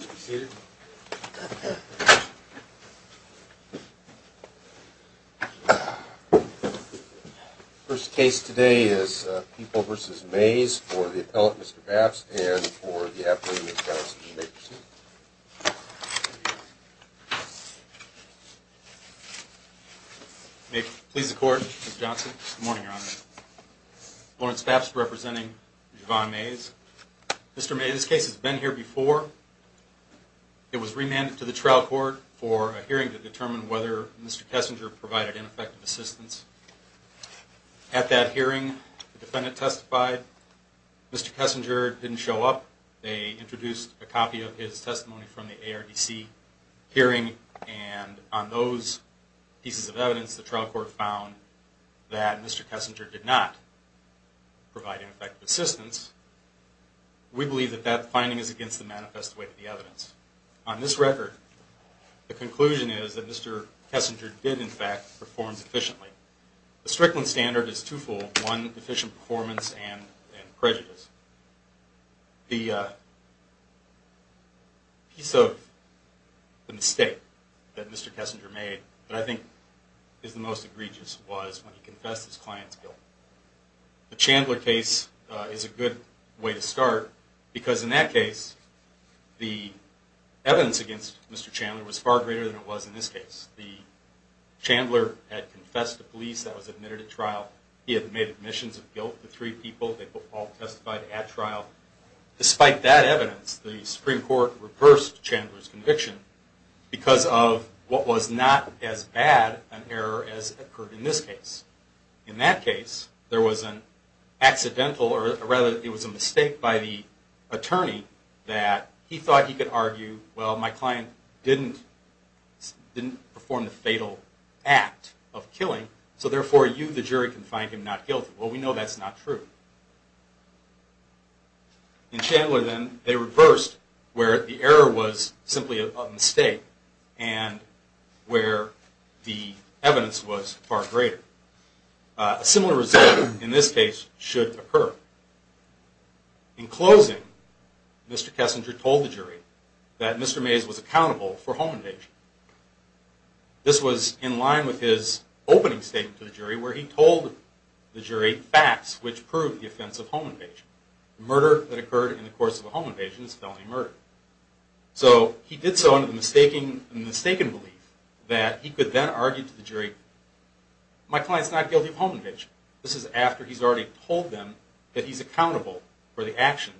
First case today is people the appellate. Mr Fafs a the court johnson mornin representing Javon Mays. It was remanded to the t hearing to determine wheth ineffective assistance. A didn't show up. They int his testimony from the A. that Mr Kessinger did not assistance. We believe th On this record, the conc Kessinger did in fact per The Strickland standard i efficient performance and made, but I think is the when he confessed his cli case is a good way to sta against Mr Chandler was f in this case. The Chandle that was admitted at tria of guilt. The three peopl at trial. Despite that ev what was not as bad an er in this case. In that cas accidental or rather it w my client didn't didn't act of killing. So therefo find him not guilty. Well true. In Chandler. Then t was far greater. A simil should occur in closing. was accountable for home where he told the jury fa offense of home invasion. in the course of a home i murder. So he did so in t mistaken belief that he c the jury. My client's not This is after he's already accountable for the actio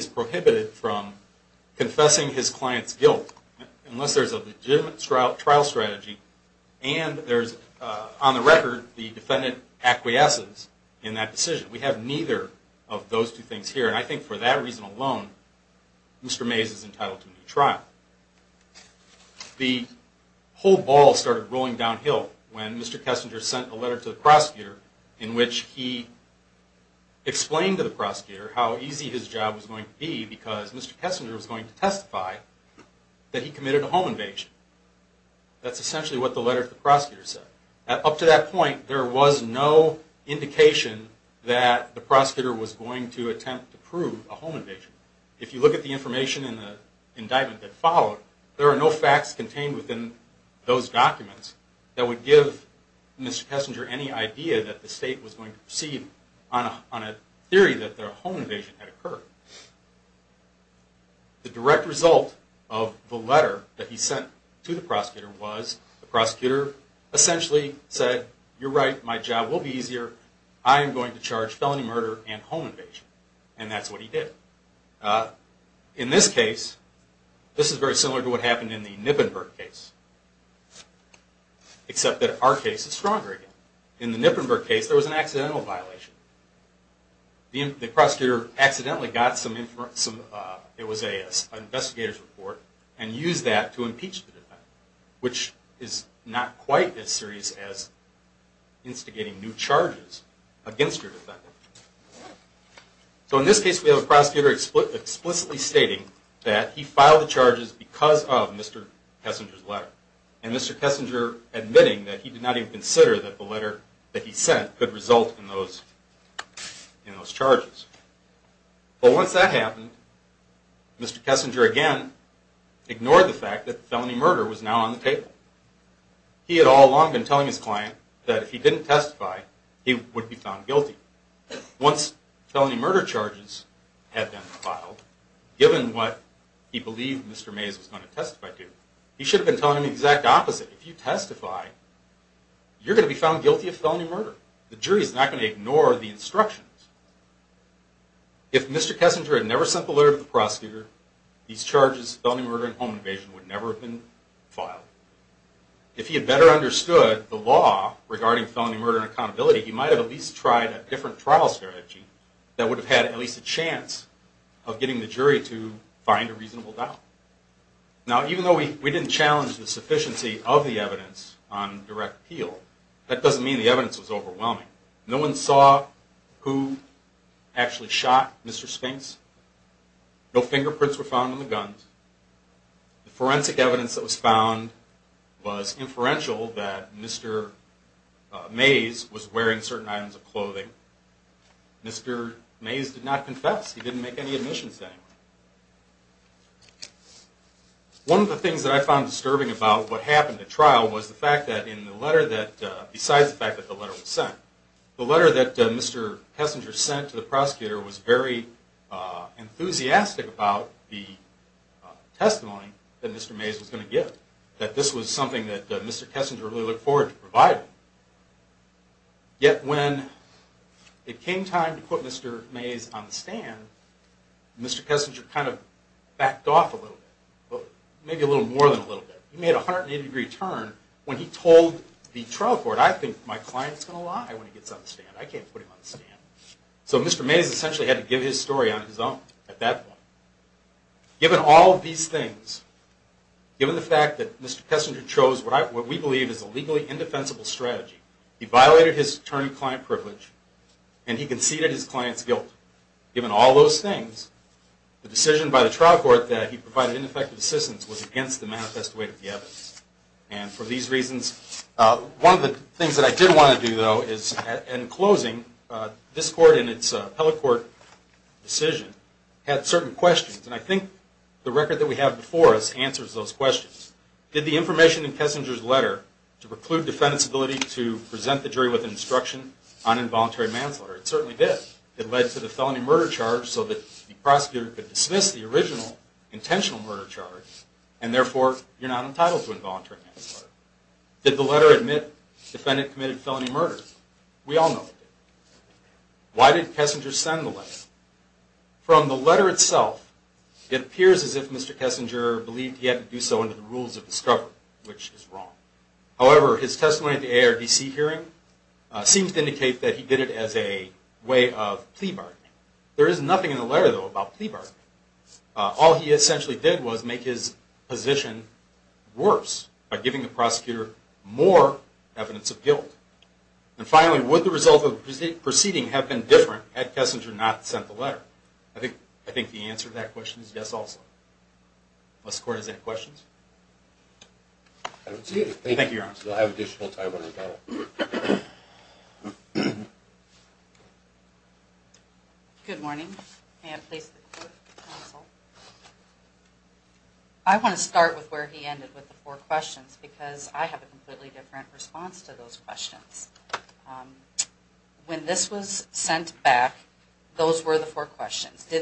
is prohibited from confes guilt unless there's a le and there's on the record acquiesces in that decisi of those two things here. reason alone, Mr Mays is downhill when Mr Kessinge the prosecutor in which h to be because Mr Kessinge that he committed a home up to that point, there w a home invasion. If you l in the indictment that fo facts contained within th would give Mr Kessinger a to proceed on a theory th had occurred. The direct that he sent to the prose essentially said, you're be easier. I am going to and home invasion. And th to what happened in the N that our case is stronger violation. The prosecutor use that to impeach the d quite as serious as insti against your defendant. S have a prosecutor explicit he filed the charges beca letter and Mr Kessinger a did not even consider tha result in those in those that happened, Mr Kessinge had all along been tellin he didn't testify, he wou Once felony murder charge what he believed Mr Mays to, he should have been t If you testify, you're go is not going to ignore th the prosecutor, these char home invasion would never he had better understood at least tried a differen that would have had at le the jury to find a reason though we didn't challeng of the evidence on direct No one saw who actually s No fingerprints were foun that Mr Mays was wearing clothing. Mr Mays did not I found disturbing about was the fact that in the The letter that Mr Kessin the prosecutor was very e the testimony that Mr Ma look forward to provide. time to put Mr Mays on th a little more than a litt turn when he told the tri my client is gonna lie wh I can't put him on the st essentially had to give h at that given all of thes is a legally indefensible his attorney client privi his client's guilt. Given the decision by the trial ineffective assistance wa the evidence. And for th of the things that I did is in closing, uh, this And I think the record th answers those questions. in Kessinger's letter to on involuntary manslaughter It led to the felony murd prosecutor could dismiss intentional murder charg not entitled to involunta letter admit defendant co We all know why did Kessi from the letter itself. I Mr Kessinger believed he the rules of discovery, w his testimony at the A. R to indicate that he did i There is nothing in the l All he essentially did w worse by giving the prose of guilt. And finally, wo proceeding have been diff not sent the letter? I th of that question is yes a any questions. Thank you. So I want to start with w four questions because I response to those questio sent back, those were the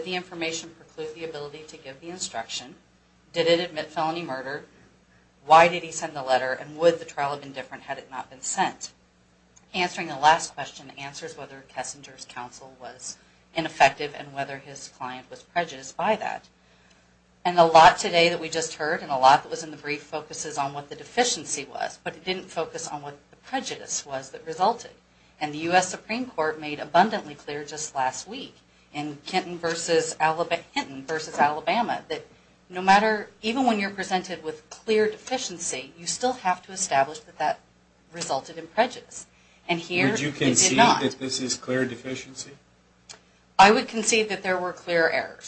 the information preclude the instruction? Did it a Why did he send the lette been different? Had it no the last question answers counsel was ineffective an by that. And a lot today and a lot that was in the the deficiency was, but i what the prejudice was th U. S. Supreme Court made just last week in Kenton Alabama that no matter, e with clear deficiency, yo that that resulted in pre can see that this is clea I would concede that ther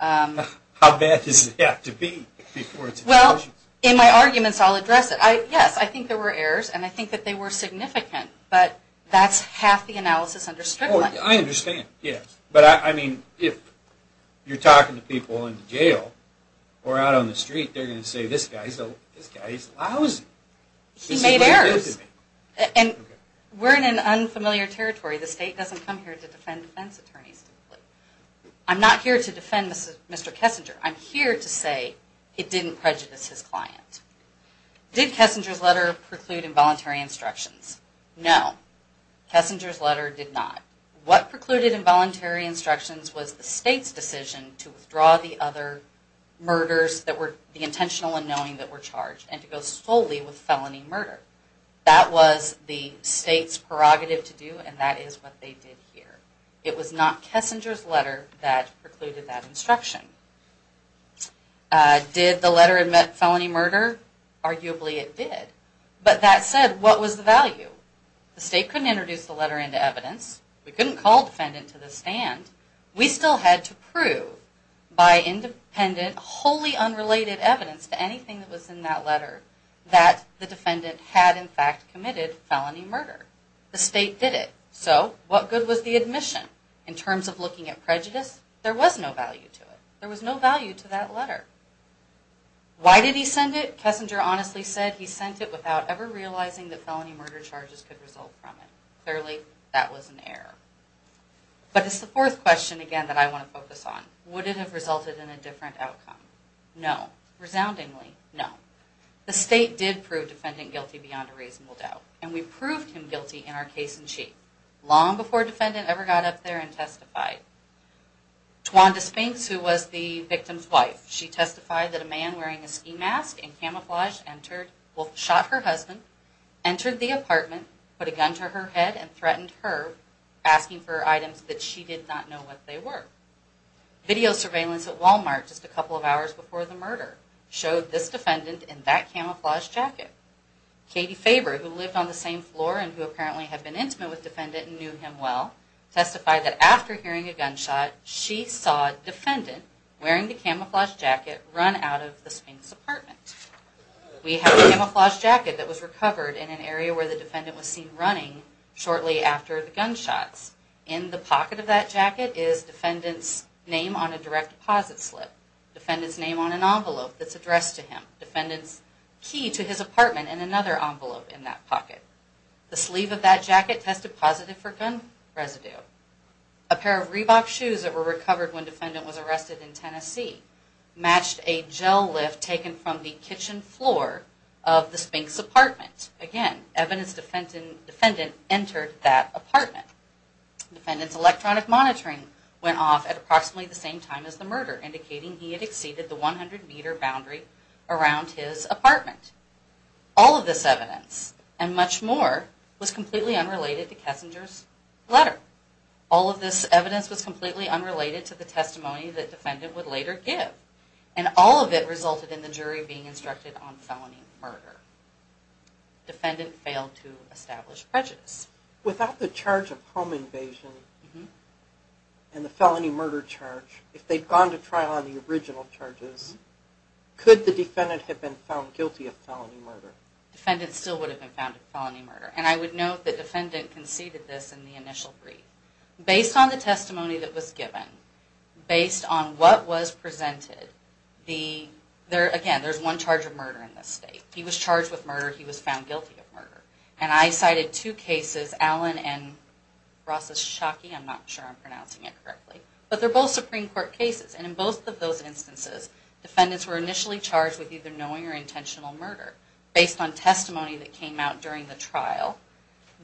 Um, how bad does it have Well, in my arguments, I' I think there were errors they were significant, bu understood. I understand. if you're talking to peop on the street, they're go So this guy's lousy. He m an unfamiliar territory. come here to defend defen not here to defend Mr. Ke to say it didn't prejudic Kessinger's letter preclud No, Kessinger's letter di involuntary instructions to withdraw the other mur and knowing that were char with felony murder. That state's prerogative to do what they did here. It wa letter that precluded tha the letter and met feloni it did. But that said, wh The state couldn't introd into evidence. We couldn' to the stand. We still ha independent, wholly unrel anything that was in that the defendant had in fact murder. The state did it. the admission in terms of There was no value to it. to that letter. Why did h honestly said he sent it that felony murder chargi from it. Clearly that was the fourth question again on. Would it have resulte No, resoundingly no. The guilty beyond a reasonabl him guilty in our case an ever got up there and tes who was the victim's wife a man wearing a ski mask shot her husband entered a gun to her head and thr for items that she did no Video surveillance at Wal just a couple of hours be showed this defendant in Katie Faber, who lived on who apparently have been and knew him well, testif a gunshot, she saw a defe jacket run out of the Spi camouflage jacket that wa an area where the defenda shortly after the gunshot of that jacket is defenda slip, defendant's name on addressed to him, defend and another envelope in t of that jacket tested pos A pair of Reebok shoes th defendant was arrested in a gel lift taken from the Spinks apartment. Again, entered that apartment. D monitoring went off at ap time as the murder indicat 100 m boundary around his evidence and much more wa to Kessinger's letter. Al was completely unrelated that defendant would late it resulted in the jury b murder. Defendant failed without the charge of hom and the felony murder cha to trial on the original defendant had been found murder? Defendant still w felony murder. And I woul conceded this in the init the testimony that was gi presented the there again of murder in this state. murder. He was found guil And I cited two cases, Al I'm not sure I'm pronounc but they're both Supreme both of those instances, charged with either knowi murder. Based on testimon the trial,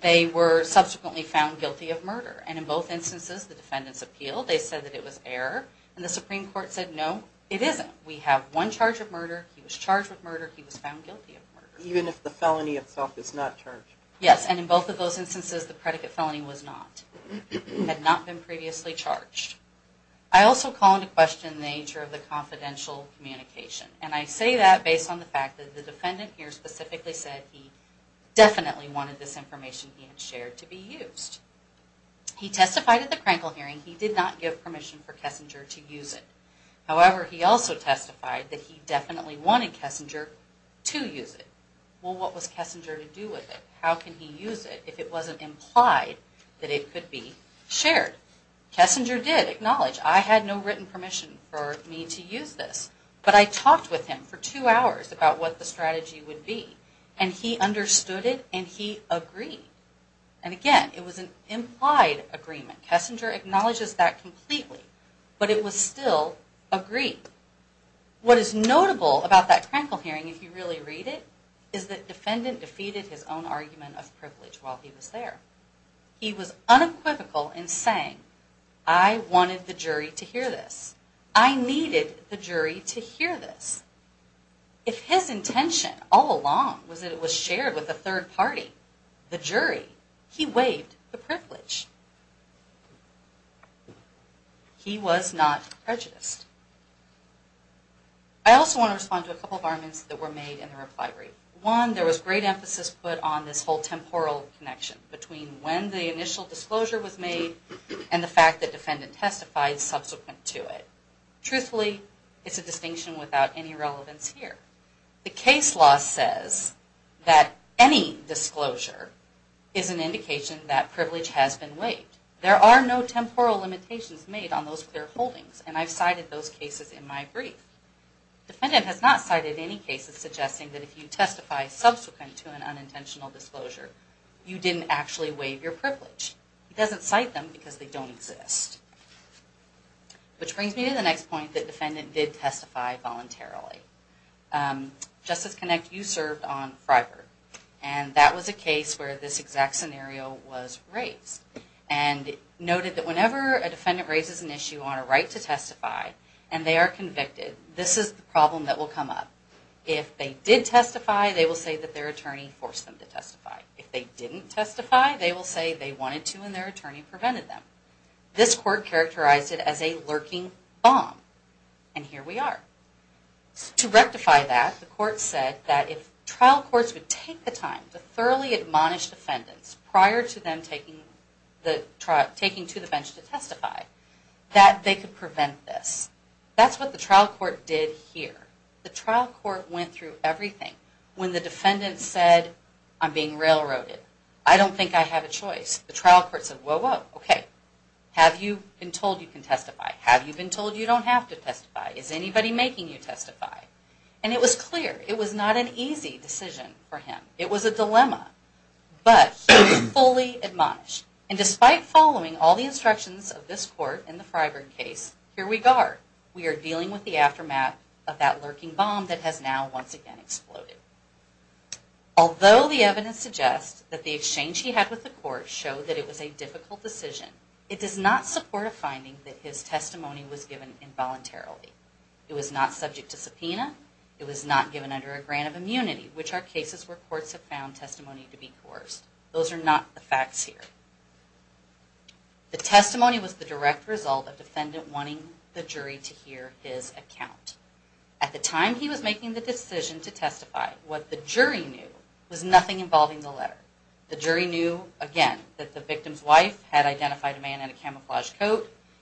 they were subs of murder. And in both in appeal, they said that it one charge of murder. He He was found guilty of mu itself is not charged. Y of those instances, the p was not had not been previ also call into question t communication. And I say fact that the defendant h said he definitely wanted he had shared to be used. the crankle hearing. He d for Kessinger to use it. testified that he definit to use it. Well, what was with it? How can he use i that it could be shared? I had no written permissi But I talked with him for what the strategy would b it and he agreed. And aga agreement. Kessinger ackn But it was still agree. W hearing, if you really re defeated his own argument he was there. He was uneq I wanted the jury to hear the jury to hear this. I all along was that it was party, the jury, he waived privilege. He was not pre to respond to a couple of made in the reply rate. O emphasis put on this whol between when the initial made and the fact that de subsequent to it. Truthfu without any relevance her that any disclosure is an been waived. There are no made on those clear holdi those cases in my brief. cited any cases suggestin subsequent to an unintent you didn't actually waive doesn't cite them because Which brings me to the ne did testify voluntarily. you served on Friberg and where this exact scenario that whenever a defendant on a right to testify and This is the problem that they did testify, they wi forced them to testify. I they will say they wanted prevented them. This cour as a lurking bomb. And he that, the court said that the time to thoroughly ad prior to them taking the bench to testify that th this. That's what the tri The trial court went thro the defendant said, I'm b don't think I have a choi said, well, okay, have yo testify? Have you been to to testify? Is anybody ma And it was clear it was n for him. It was a dilemma admonished. And despite f of this court in the Frib are dealing with the afte bomb that has now once aga the evidence suggests that had with the court show t decision. It does not sup his testimony was given i It was not subject to sup given under a grant of im where courts have found t Those are not the facts h was the direct result of the jury to hear his acco was making the decision t jury knew was nothing inv jury knew again that the identified a man in a cam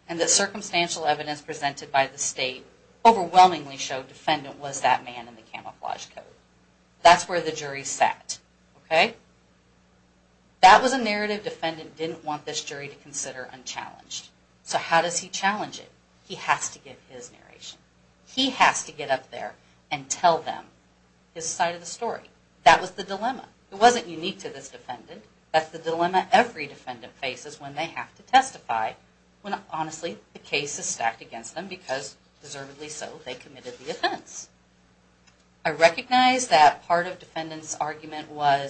and the circumstantial ev the state overwhelmingly was that man in the camif where the jury sat. Okay. defendant didn't want thi unchallenged. So how does has to get his narration. and tell them his side of the dilemma. It wasn't un That's the dilemma. Every they have to testify hone stacked against them beca they committed the offense of defendants argument wa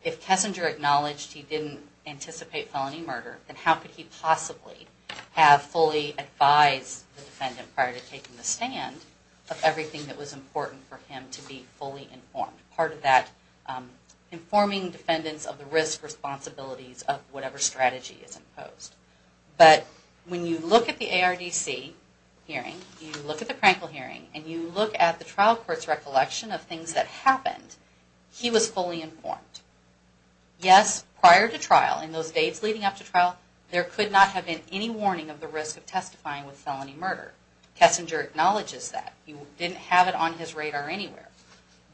he didn't anticipate felo could he possibly have fu prior to taking the stand was important for him to of that informing defenda of whatever strategy is i you look at the A. R. D. at the practical hearing trial court's recollectio happened. He was fully in to trial in those dates l there could not have been risk of testifying with f acknowledges that you did radar anywhere.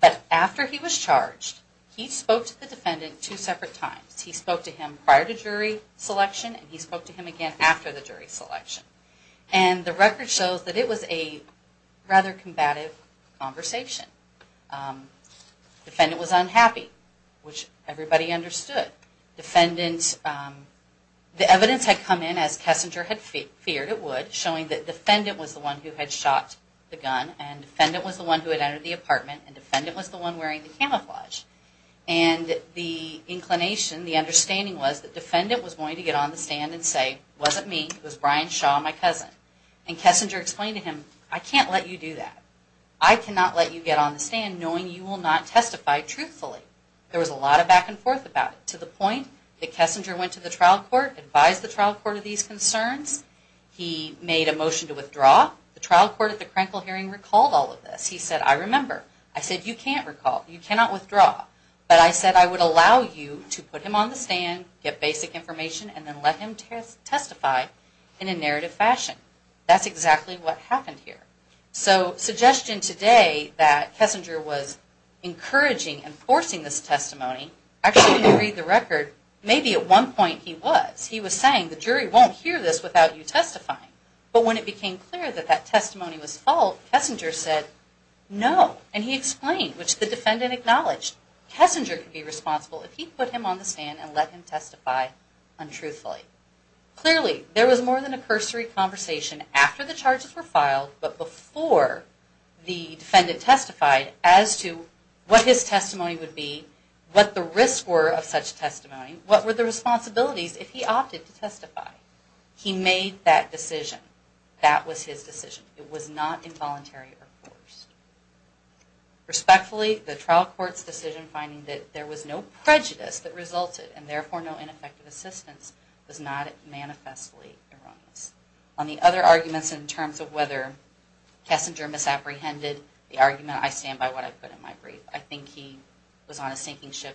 But after he was charged, he spoke two separate times. He sp selection and he spoke to the jury selection. And t it was a rather combative was unhappy, which everyb um, the evidence had come feared it would showing t one who had shot the gun the one who had entered t defendant was the one we and the inclination, the that defendant was going and say, wasn't me. It wa and Kessinger explained t you do that. I cannot let knowing you will not test was a lot of back and fort that Kessinger went to th the trial court of these a motion to withdraw the hearing recalled all of t I said, you can't recall. But I said, I would allow on the stand, get basic i let him testify in a narr exactly what happened here that Kessinger was encoura this testimony. Actually, Maybe at one point he was jury won't hear this with But when it became clear was fault, Kessinger said which the defendant ackno be responsible if he put let him testify untruthfu was more than a cursory c the charges were filed. B testified as to what his what the risk were of such the responsibilities if h He made that decision. T It was not involuntary or the trial court's decisio was no prejudice that res no ineffective assistance erroneous on the other ar of whether Kessinger misa I stand by what I put in he was on a sinking ship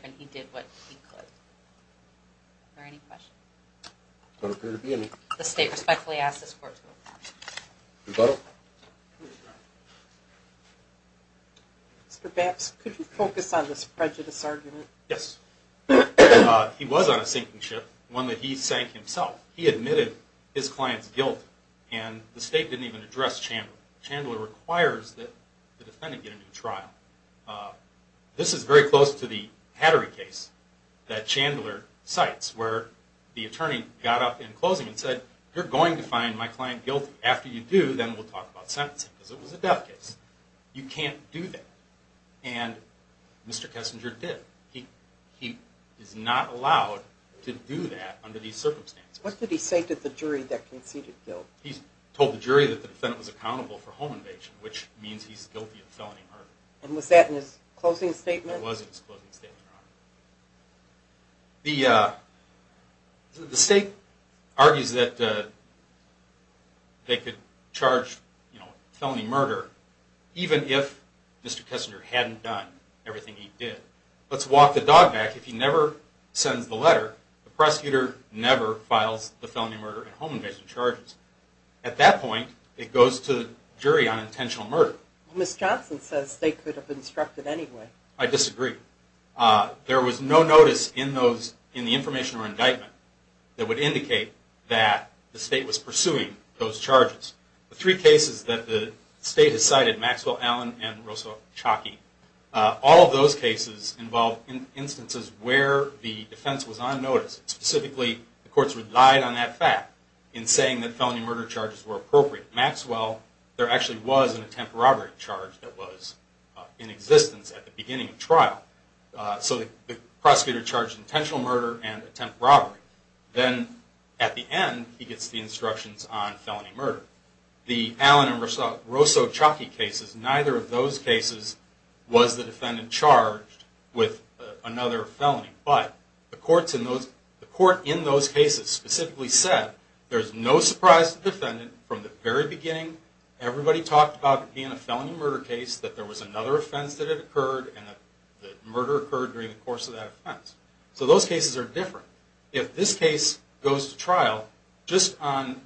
don't appear to be any th ask this court. Mr Baps, this prejudice argument? sinking ship, one that he admitted his client's gui didn't even address Chand that the defendant get a is very close to the hatt sites where the attorney and said, you're going to after you do, then we'll because it was a death ca and Mr Kessinger did. He to do that under these ci he say to the jury that c the jury that the defend for home invasion, which felony murder. And was th statement? It wasn't excl uh, the state argues that you know, felony murder, hadn't done everything he the dog back. If you never the prosecutor never file and home invasion charges it goes to jury on intenti says they could have inst disagree. Uh, there was n the information or indict that the state was pursui The three cases that the Allen and Russo Chucky. U involved in instances whe on notice, specifically t on that fact in saying th charges were appropriate. there actually was an att that was in existence at trial. Uh, so the prosecu murder and attempt robbe he gets the instructions Allen and Russell Rosso C of those cases was the de another felony. But the c court in those cases spec there's no surprise to de beginning, everybody talk murder case that there wa it occurred and that murd course of that offense. S different. If this case g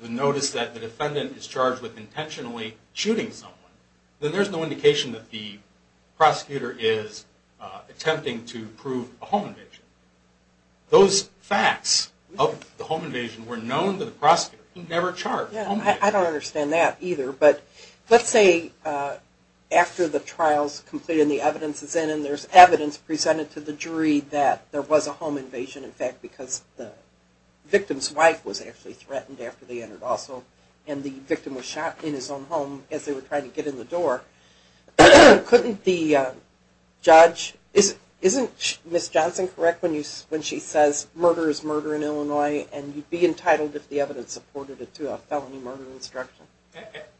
the notice that the defen intentionally shooting so indication that the prose to prove a home invasion. facts of the home invasio the prosecutor never char that either. But let's sa completing the evidence i presented to the jury tha invasion. In fact, becaus was actually threatened a and the victim was shot i they were trying to get i the judge isn't isn't Mis when she says murder is m and you'd be entitled if it to a felony murder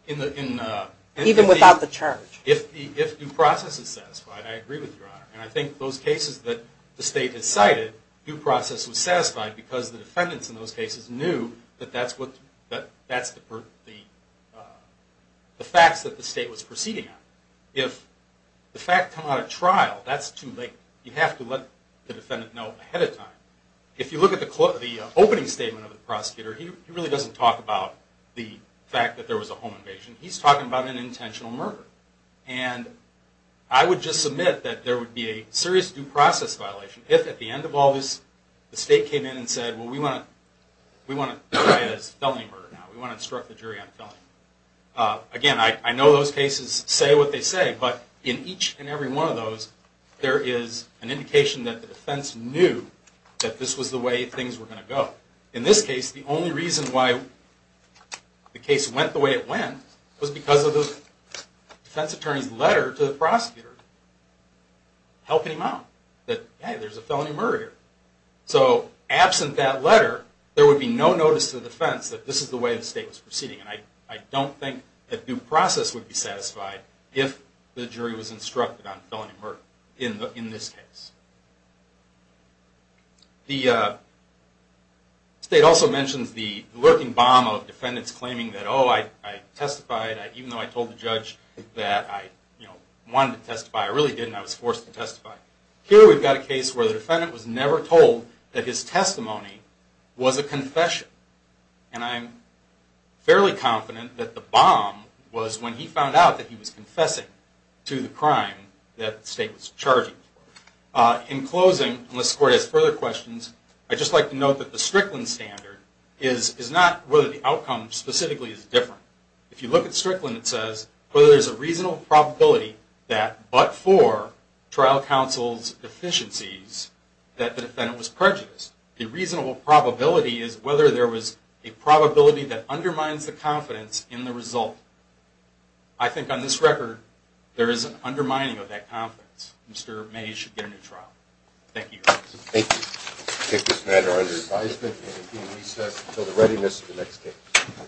in without the charge. If th I agree with your honor a that the state has cited because the defendants in that that's what that's t that the state was procee come out of trial, that's you have to let the defe time. If you look at the statement of the prosecu talk about the fact that invasion. He's talking ab murder and I would just s would be a serious due pr at the end of all this, t said, well, we want to, w murder. Now we want to in on filming again. I know they say, but in each and there is an indication th that this was the way thin In this case, the only re went the way it went was attorney's letter to the him out that there's a fe absent that letter, there the defense that this is proceeding. And I don't t would be satisfied if the on felony murder in the i also mentions the lurkin claiming that, oh, I test I told the judge that I w really didn't. I was forc we've got a case where th told that his testimony w I'm fairly confident that he found out that he was crime that state was char unless court has further to note that the Strickl the outcome specifically look at Strickland, it sa probability that but for deficiencies that the def The reasonable probabilit was a probability that un in the result. I think on an undermining of that c get a new trial. Thank yo